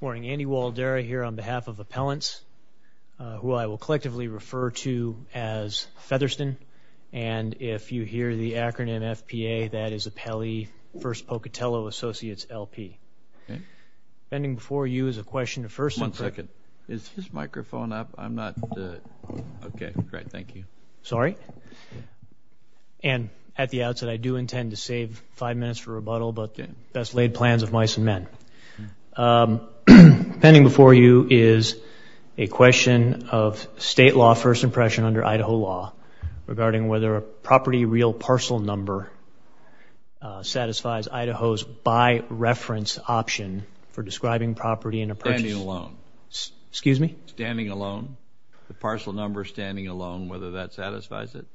Morning, Andy Waldara here on behalf of Appellants, who I will collectively refer to as Featherston. And if you hear the acronym FPA, that is Appellee First Pocatello Associates, LP. Okay. Standing before you is a question of first and second. One second. Is his microphone up? I'm not – okay, great, thank you. Sorry? And at the outset, I do intend to save five minutes for rebuttal, but best laid plans of mice and men. Standing before you is a question of state law first impression under Idaho law regarding whether a property real parcel number satisfies Idaho's by reference option for describing property in a – Standing alone. Excuse me? Standing alone, the parcel number standing alone, whether that satisfies it?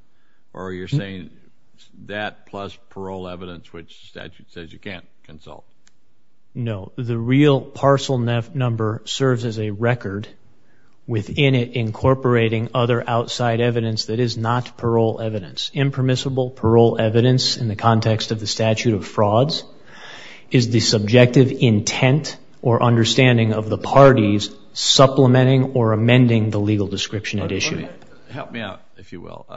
Or you're saying that plus parole evidence, which the statute says you can't consult? No, the real parcel number serves as a record within it incorporating other outside evidence that is not parole evidence. Impermissible parole evidence in the context of the statute of frauds is the subjective intent or understanding of the parties supplementing or amending the legal description at issue. Help me out, if you will.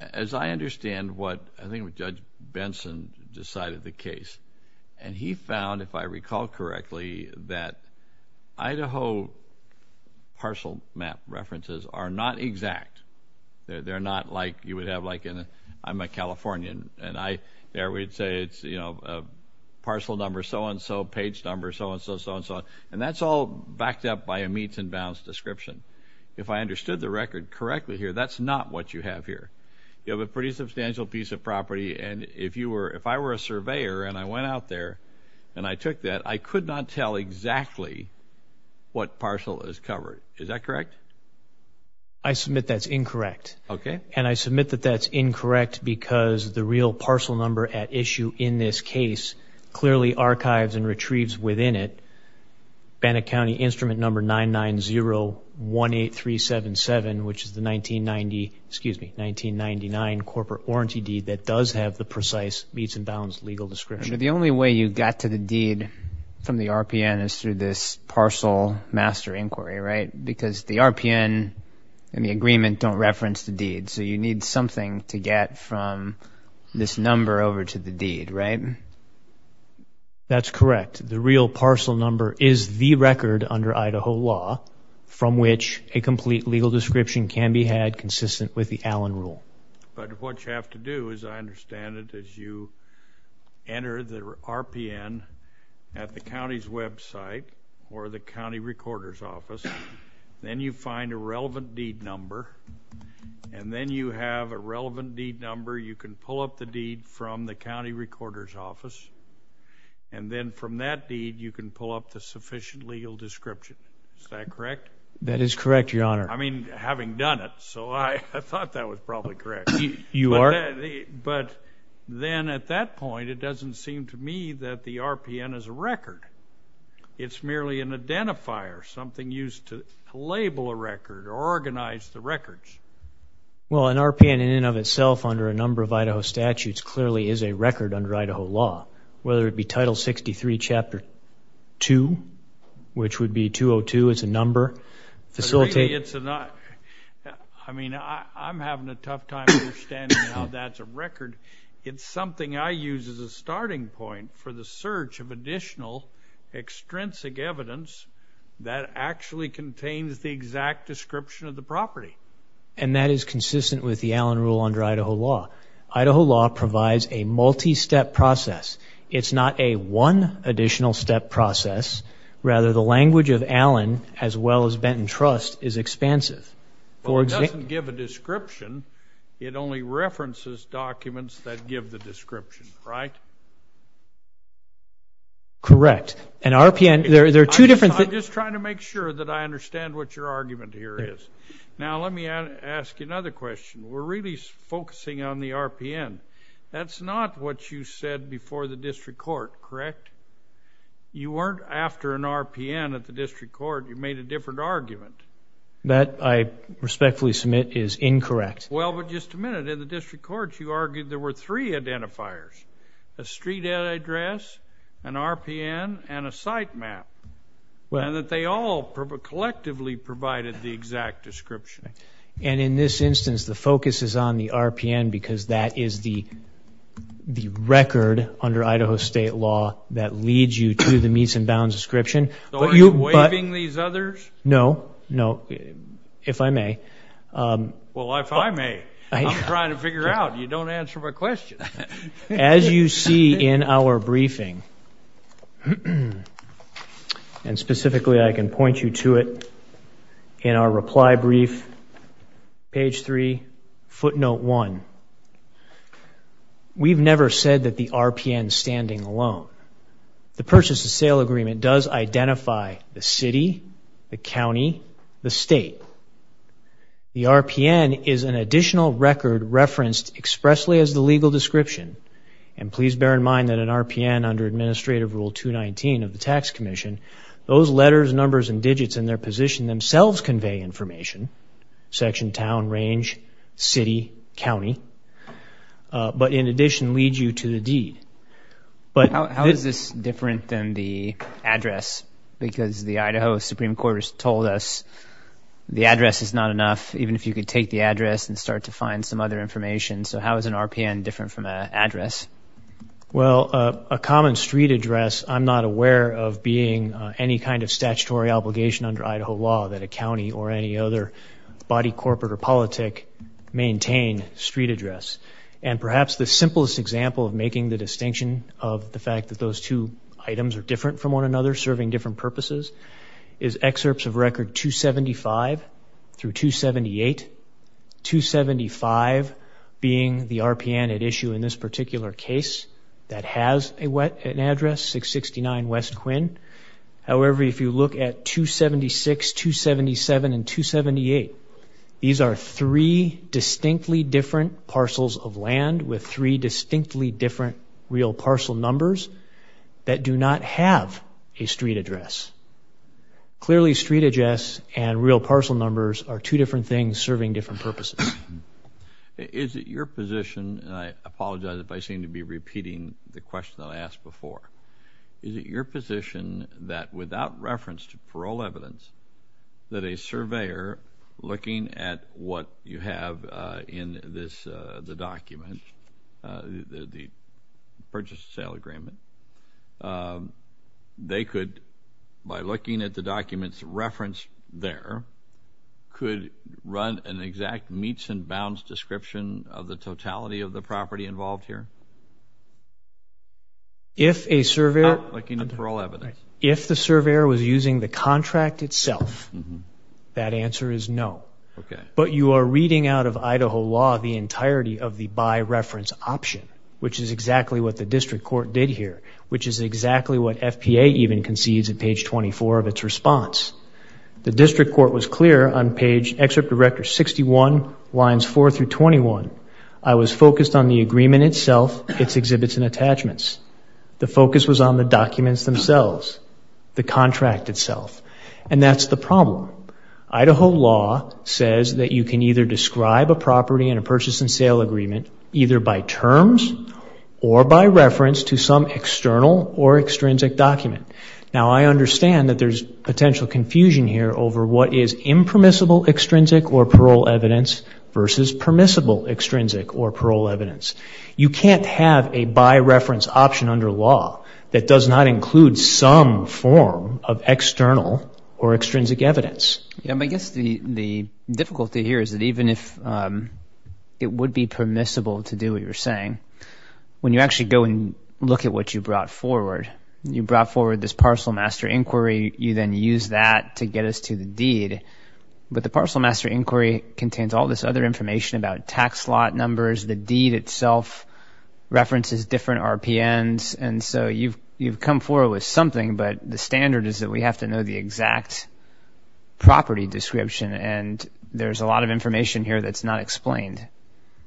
As I understand what – I think Judge Benson decided the case, and he found, if I recall correctly, that Idaho parcel map references are not exact. They're not like you would have like in – I'm a Californian, and there we'd say it's a parcel number, so-and-so, page number, so-and-so, so-and-so, and that's all backed up by a meets and bounds description. If I understood the record correctly here, that's not what you have here. You have a pretty substantial piece of property, and if you were – if I were a surveyor and I went out there and I took that, I could not tell exactly what parcel is covered. Is that correct? I submit that's incorrect. Okay. And I submit that that's incorrect because the real parcel number at issue in this case clearly archives and retrieves within it Bannock County Instrument Number 99018377, which is the 1990 – excuse me, 1999 corporate warranty deed that does have the precise meets and bounds legal description. The only way you got to the deed from the RPN is through this parcel master inquiry, right? Because the RPN and the agreement don't reference the deed, so you need something to get from this number over to the deed, right? That's correct. The real parcel number is the record under Idaho law from which a complete legal description can be had consistent with the Allen Rule. But what you have to do, as I understand it, is you enter the RPN at the county's website or the county recorder's office. Then you find a relevant deed number, and then you have a relevant deed number. You can pull up the deed from the county recorder's office, and then from that deed you can pull up the sufficient legal description. Is that correct? That is correct, Your Honor. I mean, having done it, so I thought that was probably correct. You are? But then at that point, it doesn't seem to me that the RPN is a record. It's merely an identifier, something used to label a record or organize the records. Well, an RPN in and of itself under a number of Idaho statutes clearly is a record under Idaho law, whether it be Title 63, Chapter 2, which would be 202 as a number. I mean, I'm having a tough time understanding how that's a record. It's something I use as a starting point for the search of additional extrinsic evidence that actually contains the exact description of the property. And that is consistent with the Allen Rule under Idaho law. Idaho law provides a multi-step process. It's not a one additional step process. Rather, the language of Allen, as well as Benton Trust, is expansive. Well, it doesn't give a description. It only references documents that give the description, right? Correct. An RPN, there are two different things. I'm just trying to make sure that I understand what your argument here is. Now, let me ask you another question. We're really focusing on the RPN. That's not what you said before the district court, correct? You weren't after an RPN at the district court. You made a different argument. That, I respectfully submit, is incorrect. Well, but just a minute. In the district court, you argued there were three identifiers, a street address, an RPN, and a site map, and that they all collectively provided the exact description. And in this instance, the focus is on the RPN because that is the record under Idaho state law that leads you to the meets and bounds description. So are you waiving these others? No. No. If I may. Well, if I may. I'm trying to figure out. You don't answer my question. As you see in our briefing, and specifically I can point you to it in our reply brief, page three, footnote one. We've never said that the RPN is standing alone. The purchase and sale agreement does identify the city, the county, the state. The RPN is an additional record referenced expressly as the legal description. And please bear in mind that an RPN under administrative rule 219 of the tax commission, those letters, numbers, and digits in their position themselves convey information, section, town, range, city, county, but in addition lead you to the deed. How is this different than the address? Because the Idaho Supreme Court has told us the address is not enough, even if you could take the address and start to find some other information. So how is an RPN different from an address? Well, a common street address, I'm not aware of being any kind of statutory obligation under Idaho law that a county or any other body, corporate, or politic maintain street address. And perhaps the simplest example of making the distinction of the fact that those two items are different from one another serving different purposes is excerpts of record 275 through 278. 275 being the RPN at issue in this particular case that has an address, 669 West Quinn. However, if you look at 276, 277, and 278, these are three distinctly different parcels of land with three distinctly different real parcel numbers that do not have a street address. Clearly street address and real parcel numbers are two different things serving different purposes. Is it your position, and I apologize if I seem to be repeating the question that I asked before, is it your position that without reference to parole evidence, that a surveyor looking at what you have in the document, the purchase and sale agreement, they could, by looking at the document's reference there, could run an exact meets and bounds description of the totality of the property involved here? If a surveyor was using the contract itself, that answer is no. But you are reading out of Idaho law the entirety of the by reference option, which is exactly what the district court did here, which is exactly what FPA even concedes at page 24 of its response. The district court was clear on page, excerpt of record 61, lines 4 through 21. I was focused on the agreement itself, its exhibits and attachments. The focus was on the documents themselves, the contract itself, and that's the problem. Idaho law says that you can either describe a property in a purchase and sale agreement either by terms or by reference to some external or extrinsic document. Now, I understand that there's potential confusion here over what is impermissible extrinsic or parole evidence versus permissible extrinsic or parole evidence. You can't have a by reference option under law that does not include some form of external or extrinsic evidence. I guess the difficulty here is that even if it would be permissible to do what you're saying, when you actually go and look at what you brought forward, you brought forward this parcel master inquiry, you then use that to get us to the deed. But the parcel master inquiry contains all this other information about tax lot numbers, the deed itself, references different RPNs, and so you've come forward with something, but the standard is that we have to know the exact property description, and there's a lot of information here that's not explained.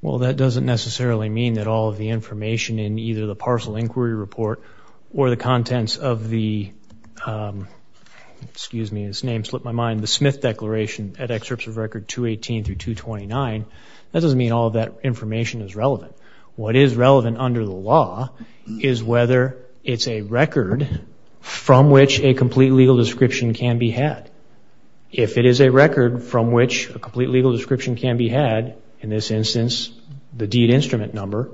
Well, that doesn't necessarily mean that all of the information in either the parcel inquiry report or the contents of the, excuse me, this name slipped my mind, the Smith Declaration at excerpts of record 218 through 229, that doesn't mean all of that information is relevant. What is relevant under the law is whether it's a record from which a complete legal description can be had. If it is a record from which a complete legal description can be had, in this instance, the deed instrument number,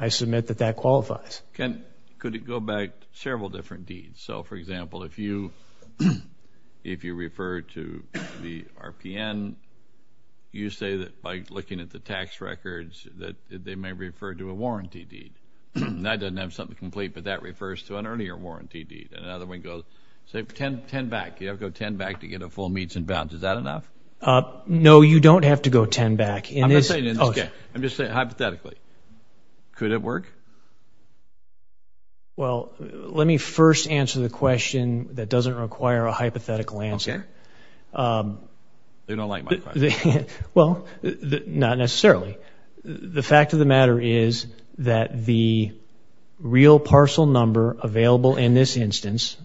I submit that that qualifies. Could it go back several different deeds? So, for example, if you refer to the RPN, you say that by looking at the tax records that they may refer to a warranty deed. That doesn't have something complete, but that refers to an earlier warranty deed. And another one goes, say, 10 back. You have to go 10 back to get a full meets and bounds. Is that enough? No, you don't have to go 10 back. I'm just saying hypothetically. Could it work? Well, let me first answer the question that doesn't require a hypothetical answer. They don't like my question. Well, not necessarily. The fact of the matter is that the real parcel number available in this instance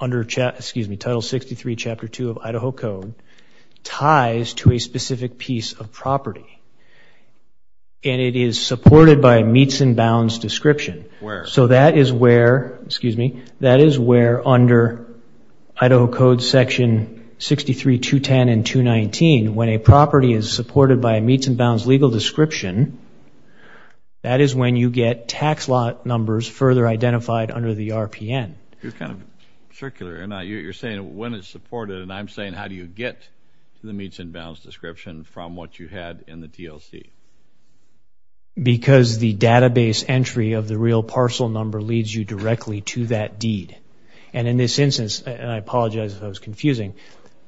under Title 63, Chapter 2 of Idaho Code, ties to a specific piece of property, and it is supported by a meets and bounds description. Where? So that is where, excuse me, that is where under Idaho Code Section 63-210 and 219, when a property is supported by a meets and bounds legal description, that is when you get tax lot numbers further identified under the RPN. You're kind of circular. You're saying when it's supported, and I'm saying how do you get to the meets and bounds description from what you had in the TLC? Because the database entry of the real parcel number leads you directly to that deed. And in this instance, and I apologize if I was confusing,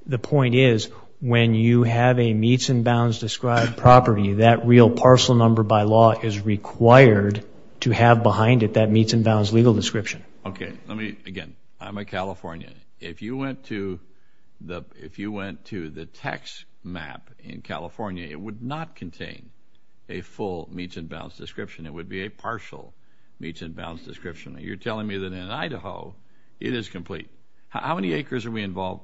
the point is when you have a meets and bounds described property, that real parcel number by law is required to have behind it that meets and bounds legal description. Okay. Let me, again, I'm a Californian. If you went to the text map in California, it would not contain a full meets and bounds description. It would be a partial meets and bounds description. You're telling me that in Idaho it is complete. How many acres are we involved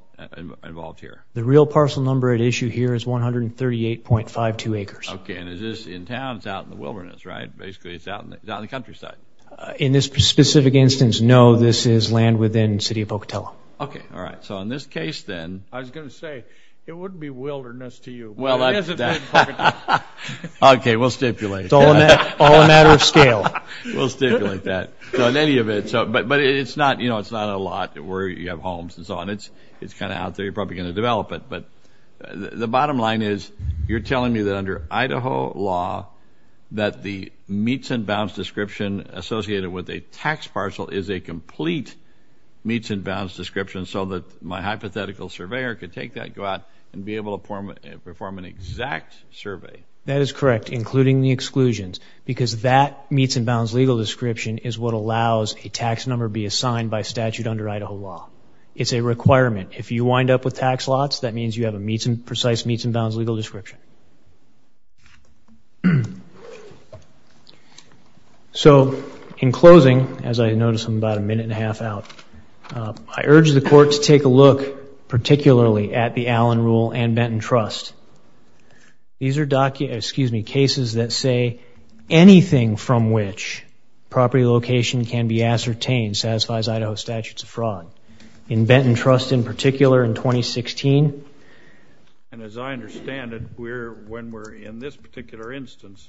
here? The real parcel number at issue here is 138.52 acres. Okay. And is this in town? It's out in the wilderness, right? Basically it's out in the countryside. In this specific instance, no, this is land within the city of Pocatello. Okay. All right. So in this case then. I was going to say it wouldn't be wilderness to you, but it is in the city of Pocatello. Okay. We'll stipulate. It's all a matter of scale. We'll stipulate that. But it's not a lot where you have homes and so on. It's kind of out there. You're probably going to develop it. But the bottom line is you're telling me that under Idaho law that the meets and bounds description associated with a tax parcel is a complete meets and bounds description so that my hypothetical surveyor could take that, go out, and be able to perform an exact survey. That is correct, including the exclusions, because that meets and bounds legal description is what allows a tax number be assigned by statute under Idaho law. It's a requirement. If you wind up with tax lots, that means you have a precise meets and bounds legal description. So in closing, as I notice I'm about a minute and a half out, I urge the court to take a look particularly at the Allen Rule and Benton Trust. These are cases that say anything from which property location can be ascertained satisfies Idaho statutes of fraud. In Benton Trust in particular in 2016. And as I understand it, when we're in this particular instance,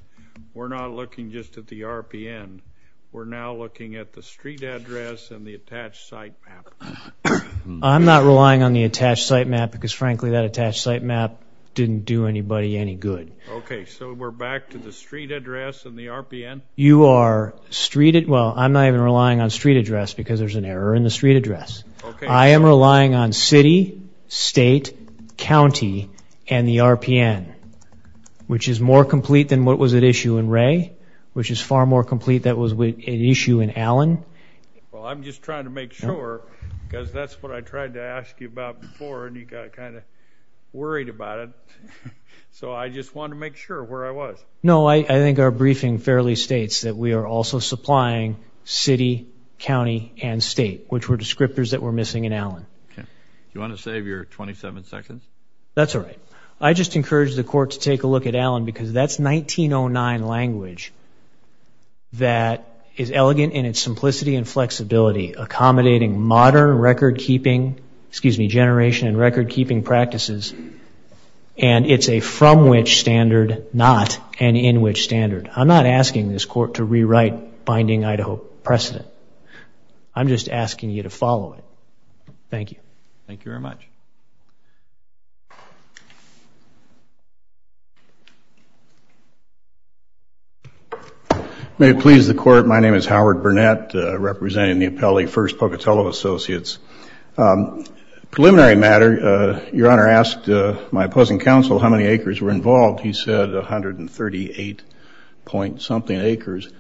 we're not looking just at the RPN. We're now looking at the street address and the attached site map. I'm not relying on the attached site map because, frankly, that attached site map didn't do anybody any good. Okay, so we're back to the street address and the RPN? You are streeted. Well, I'm not even relying on street address because there's an error in the street address. I am relying on city, state, county, and the RPN, which is more complete than what was at issue in Ray, which is far more complete than what was at issue in Allen. Well, I'm just trying to make sure because that's what I tried to ask you about before, and you got kind of worried about it. So I just wanted to make sure where I was. No, I think our briefing fairly states that we are also supplying city, county, and state, which were descriptors that were missing in Allen. Do you want to save your 27 seconds? That's all right. I just encourage the court to take a look at Allen because that's 1909 language that is elegant in its simplicity and flexibility, accommodating modern record-keeping, excuse me, generation and record-keeping practices, and it's a from which standard, not, and in which standard. I'm not asking this court to rewrite binding Idaho precedent. I'm just asking you to follow it. Thank you. Thank you very much. May it please the court, my name is Howard Burnett, representing the appellee, First Pocatello Associates. Preliminary matter, your Honor asked my opposing counsel how many acres were involved. He said 138 point something acres.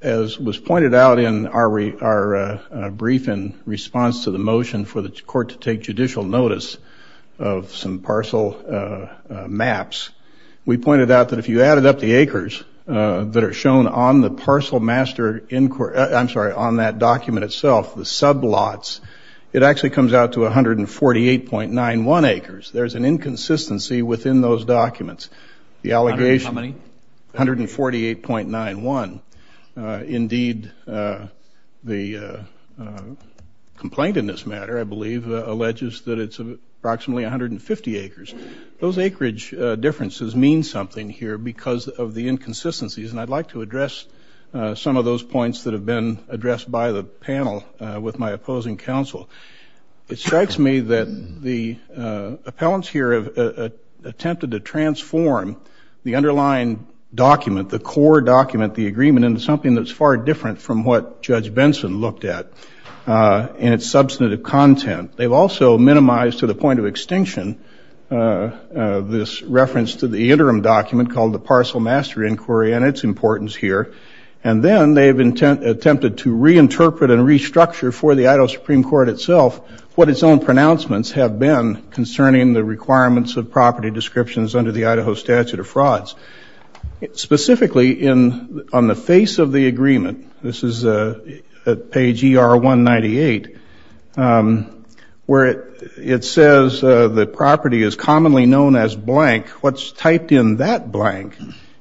As was pointed out in our briefing response to the motion for the court to take judicial notice of some parcel maps, we pointed out that if you added up the acres that are shown on the parcel master, I'm sorry, on that document itself, the sub-lots, it actually comes out to 148.91 acres. There's an inconsistency within those documents. The allegation. How many? 148.91. Indeed, the complaint in this matter, I believe, alleges that it's approximately 150 acres. Those acreage differences mean something here because of the inconsistencies, and I'd like to address some of those points that have been addressed by the panel with my opposing counsel. It strikes me that the appellants here have attempted to transform the underlying document, the core document, the agreement into something that's far different from what Judge Benson looked at in its substantive content. They've also minimized to the point of extinction this reference to the interim document called the parcel master inquiry, and its importance here, and then they've attempted to reinterpret and restructure for the Idaho Supreme Court itself what its own pronouncements have been concerning the requirements of property descriptions under the Idaho statute of frauds. Specifically, on the face of the agreement, this is at page ER198, where it says the property is commonly known as blank. What's typed in that blank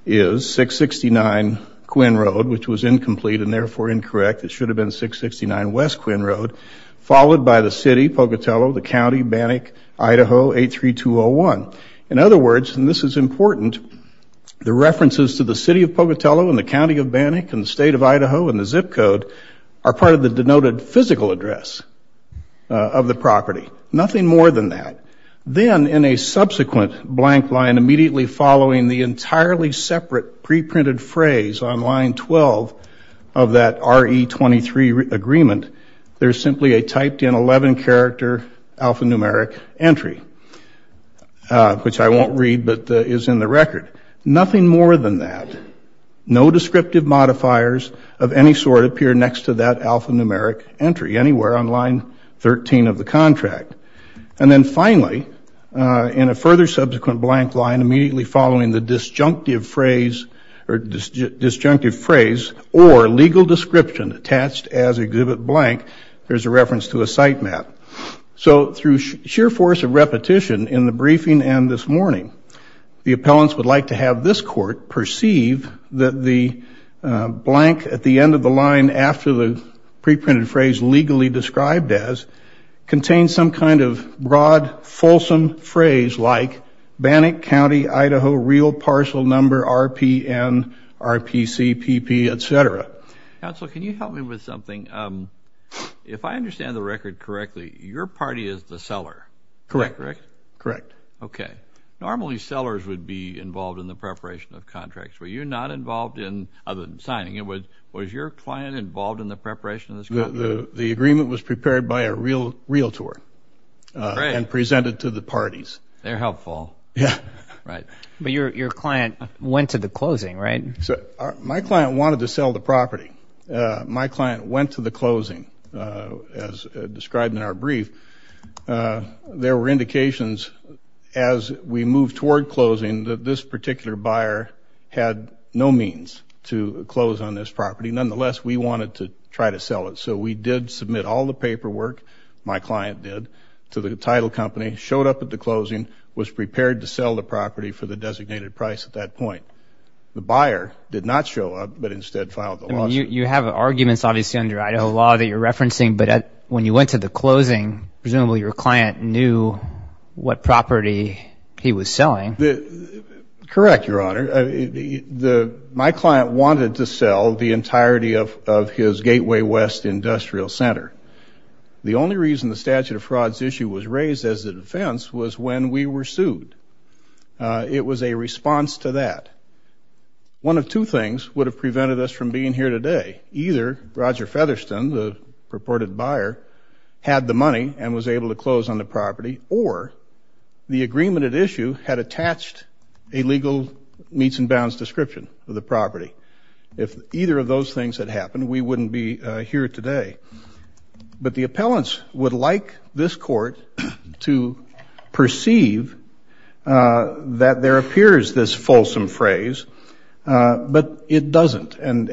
is 669 Quinn Road, which was incomplete and therefore incorrect. It should have been 669 West Quinn Road, followed by the city, Pocatello, the county, Bannock, Idaho, 83201. In other words, and this is important, the references to the city of Pocatello and the county of Bannock and the state of Idaho and the zip code are part of the denoted physical address of the property, nothing more than that. Then in a subsequent blank line immediately following the entirely separate preprinted phrase on line 12 of that RE23 agreement, there's simply a typed in 11 character alphanumeric entry, which I won't read but is in the record. Nothing more than that. No descriptive modifiers of any sort appear next to that alphanumeric entry anywhere on line 13 of the contract. And then finally, in a further subsequent blank line immediately following the disjunctive phrase or legal description attached as exhibit blank, there's a reference to a site map. So through sheer force of repetition in the briefing and this morning, the appellants would like to have this court perceive that the blank at the end of the line after the preprinted phrase legally described as contains some kind of broad, fulsome phrase like Bannock County, Idaho, real parcel number, RPN, RPCPP, et cetera. Counsel, can you help me with something? If I understand the record correctly, your party is the seller. Correct. Correct? Correct. Okay. Normally sellers would be involved in the preparation of contracts. Were you not involved in other than signing? Was your client involved in the preparation of this contract? The agreement was prepared by a realtor and presented to the parties. They're helpful. Yeah. Right. But your client went to the closing, right? My client wanted to sell the property. My client went to the closing as described in our brief. There were indications as we moved toward closing that this particular buyer had no means to close on this property. Nonetheless, we wanted to try to sell it. So we did submit all the paperwork, my client did, to the title company, showed up at the closing, was prepared to sell the property for the designated price at that point. The buyer did not show up but instead filed the lawsuit. You have arguments, obviously, under Idaho law that you're referencing, but when you went to the closing, presumably your client knew what property he was selling. Correct, Your Honor. My client wanted to sell the entirety of his Gateway West Industrial Center. The only reason the statute of frauds issue was raised as a defense was when we were sued. It was a response to that. One of two things would have prevented us from being here today. Either Roger Featherston, the purported buyer, had the money and was able to close on the property, or the agreement at issue had attached a legal meets and bounds description of the property. If either of those things had happened, we wouldn't be here today. But the appellants would like this court to perceive that there appears this fulsome phrase, but it doesn't. And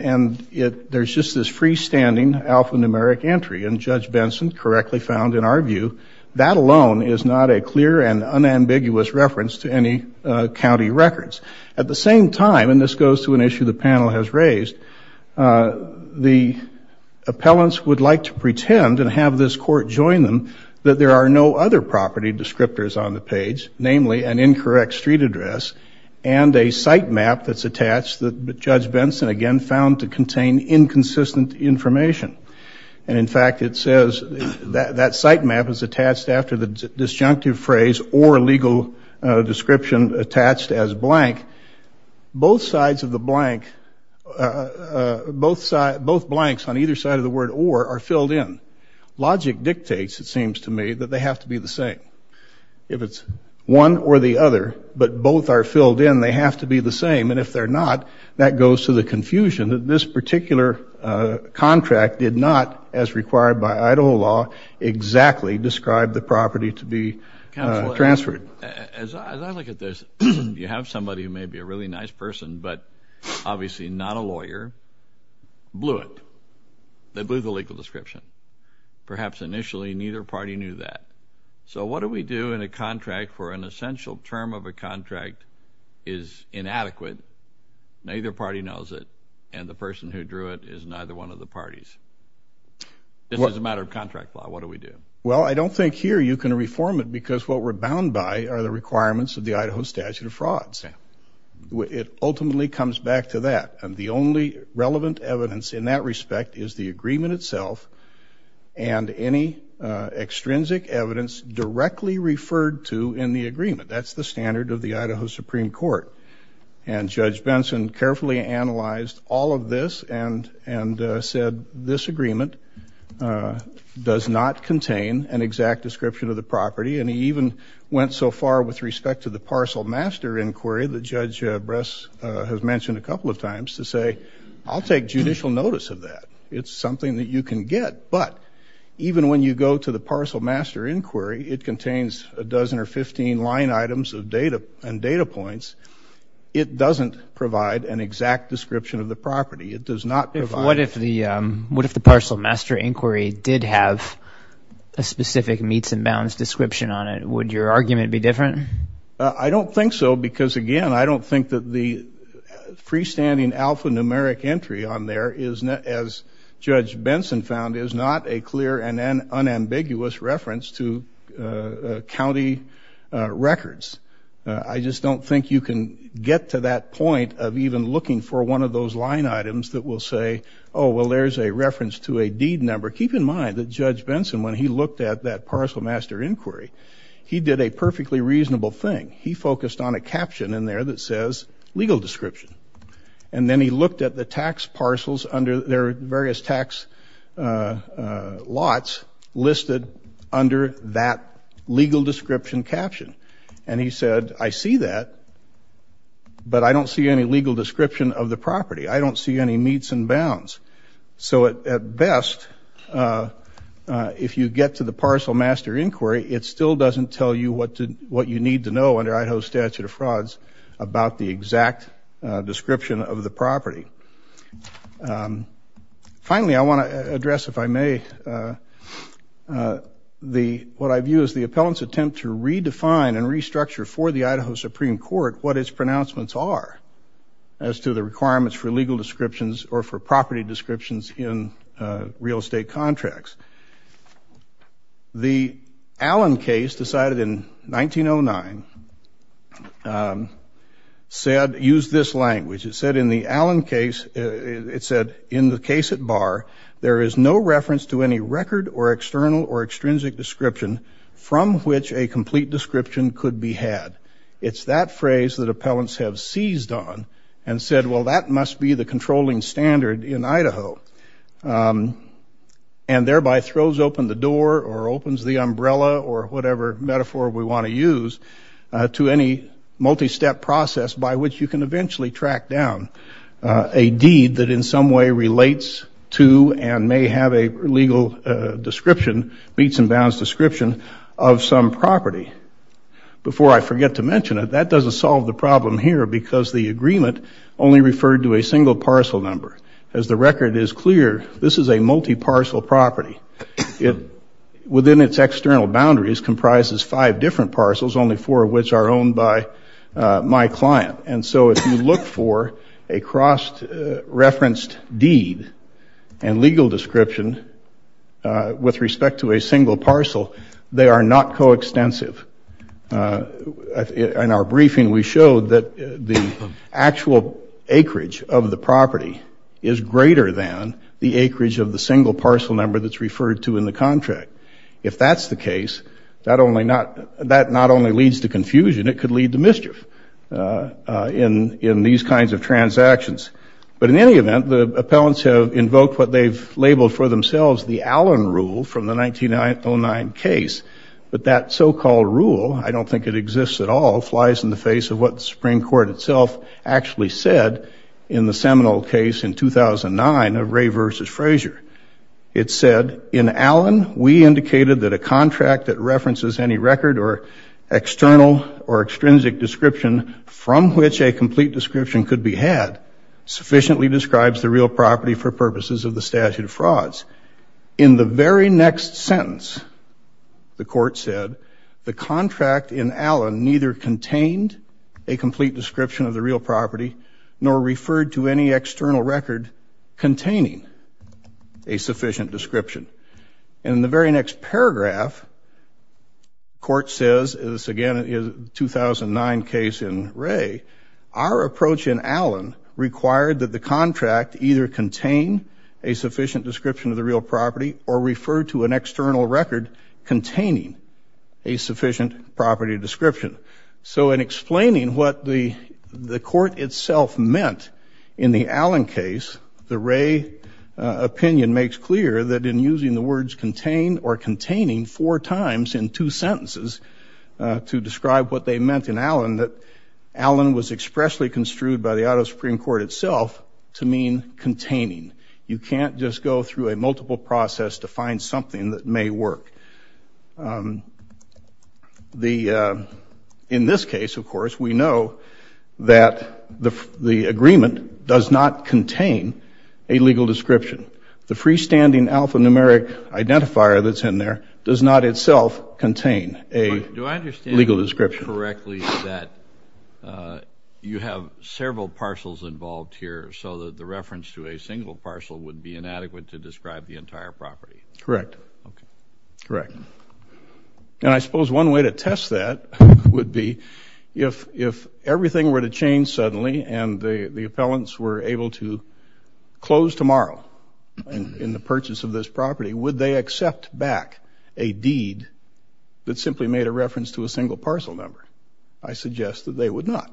there's just this freestanding alphanumeric entry, and Judge Benson correctly found, in our view, that alone is not a clear and unambiguous reference to any county records. At the same time, and this goes to an issue the panel has raised, the appellants would like to pretend and have this court join them that there are no other property descriptors on the page, namely an incorrect street address and a sitemap that's attached that Judge Benson, again, found to contain inconsistent information. And, in fact, it says that sitemap is attached after the disjunctive phrase or legal description attached as blank. Both sides of the blank, both blanks on either side of the word or are filled in. Logic dictates, it seems to me, that they have to be the same. If it's one or the other, but both are filled in, they have to be the same. And if they're not, that goes to the confusion that this particular contract did not, as required by Idaho law, exactly describe the property to be transferred. Counselor, as I look at this, you have somebody who may be a really nice person, but obviously not a lawyer, blew it. They blew the legal description. Perhaps initially neither party knew that. So what do we do in a contract where an essential term of a contract is inadequate, neither party knows it, and the person who drew it is neither one of the parties? This is a matter of contract law. What do we do? Well, I don't think here you can reform it because what we're bound by are the requirements of the Idaho statute of frauds. It ultimately comes back to that. And the only relevant evidence in that respect is the agreement itself and any extrinsic evidence directly referred to in the agreement. That's the standard of the Idaho Supreme Court. And Judge Benson carefully analyzed all of this and said this agreement does not contain an exact description of the property. And he even went so far with respect to the parcel master inquiry that Judge Bress has mentioned a couple of times to say, I'll take judicial notice of that. It's something that you can get. But even when you go to the parcel master inquiry, it contains a dozen or 15 line items and data points. It doesn't provide an exact description of the property. What if the parcel master inquiry did have a specific meets and bounds description on it? Would your argument be different? I don't think so because, again, I don't think that the freestanding alphanumeric entry on there, as Judge Benson found, is not a clear and unambiguous reference to county records. I just don't think you can get to that point of even looking for one of those line items that will say, oh, well, there's a reference to a deed number. Keep in mind that Judge Benson, when he looked at that parcel master inquiry, he did a perfectly reasonable thing. He focused on a caption in there that says legal description. And then he looked at the tax parcels under their various tax lots listed under that legal description caption. And he said, I see that, but I don't see any legal description of the property. I don't see any meets and bounds. So at best, if you get to the parcel master inquiry, it still doesn't tell you what you need to know under Idaho's statute of frauds about the exact description of the property. Finally, I want to address, if I may, what I view as the appellant's attempt to redefine and restructure for the Idaho Supreme Court what its pronouncements are as to the requirements for legal descriptions or for property descriptions in real estate contracts. The Allen case decided in 1909 said, use this language. It said in the Allen case, it said, in the case at bar, there is no reference to any record or external or extrinsic description from which a complete description could be had. It's that phrase that appellants have seized on and said, well, that must be the controlling standard in Idaho, and thereby throws open the door or opens the umbrella or whatever metaphor we want to use to any multi-step process by which you can eventually track down a deed that in some way relates to and may have a legal description, meets and bounds description of some property. Before I forget to mention it, that doesn't solve the problem here because the agreement only referred to a single parcel number. As the record is clear, this is a multi-parcel property. It, within its external boundaries, comprises five different parcels, only four of which are owned by my client. And so if you look for a cross-referenced deed and legal description with respect to a single parcel, they are not coextensive. In our briefing, we showed that the actual acreage of the property is greater than the acreage of the single parcel number that's referred to in the contract. If that's the case, that not only leads to confusion, it could lead to mischief in these kinds of transactions. But in any event, the appellants have invoked what they've labeled for themselves the Allen Rule from the 1909 case. But that so-called rule, I don't think it exists at all, flies in the face of what the Supreme Court itself actually said in the seminal case in 2009 of Ray versus Frazier. It said, in Allen, we indicated that a contract that references any record or external or extrinsic description from which a complete description could be had sufficiently describes the real property for purposes of the statute of frauds. In the very next sentence, the court said, the contract in Allen neither contained a complete description of the real property nor referred to any external record containing a sufficient description. In the very next paragraph, court says, this again is 2009 case in Ray, our approach in Allen required that the contract either contain a sufficient description of the real property or refer to an external record containing a sufficient property description. So in explaining what the court itself meant in the Allen case, the Ray opinion makes clear that in using the words contain or containing four times in two sentences to describe what they meant in Allen, that Allen was expressly construed by the auto Supreme Court itself to mean containing. You can't just go through a multiple process to find something that may work. In this case, of course, we know that the agreement does not contain a legal description. The freestanding alphanumeric identifier that's in there does not itself contain a legal description. Do I understand correctly that you have several parcels involved here so that the reference to a single parcel would be inadequate to describe the entire property? Correct. Okay. Correct. And I suppose one way to test that would be if everything were to change suddenly and the appellants were able to close tomorrow in the purchase of this property, would they accept back a deed that simply made a reference to a single parcel number? I suggest that they would not,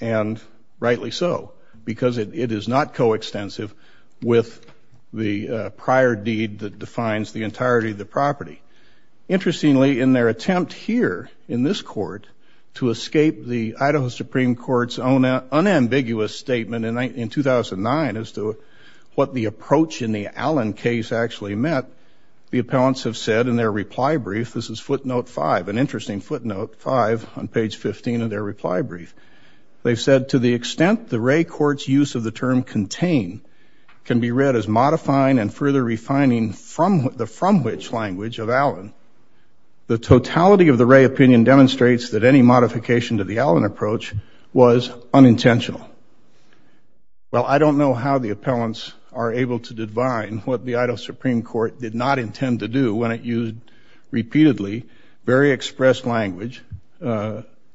and rightly so, because it is not coextensive with the prior deed that defines the entirety of the property. Interestingly, in their attempt here in this court to escape the Idaho Supreme Court's own unambiguous statement in 2009 as to what the approach in the Allen case actually meant, the appellants have said in their reply brief, this is footnote five, an interesting footnote, five on page 15 of their reply brief. They've said, to the extent the Ray court's use of the term contain can be read as modifying and further refining the from which language of Allen, the totality of the Ray opinion demonstrates that any modification to the Allen approach was unintentional. Well, I don't know how the appellants are able to divine what the Idaho Supreme Court did not intend to do when it used repeatedly very expressed language,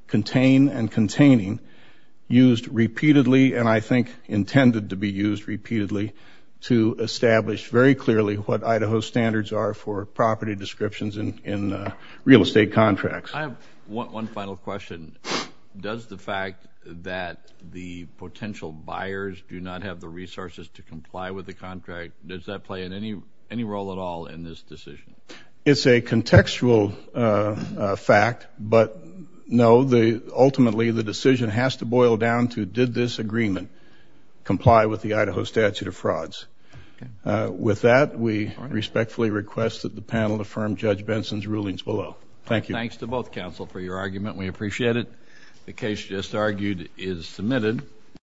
contain and containing, used repeatedly and I think intended to be used repeatedly to establish very clearly what Idaho's standards are for property descriptions in real estate contracts. I have one final question. Does the fact that the potential buyers do not have the resources to comply with the contract, does that play any role at all in this decision? It's a contextual fact, but no, ultimately the decision has to boil down to did this agreement comply with the Idaho statute of frauds. With that, we respectfully request that the panel affirm Judge Benson's rulings below. Thank you. Thanks to both counsel for your argument. We appreciate it. The case just argued is submitted.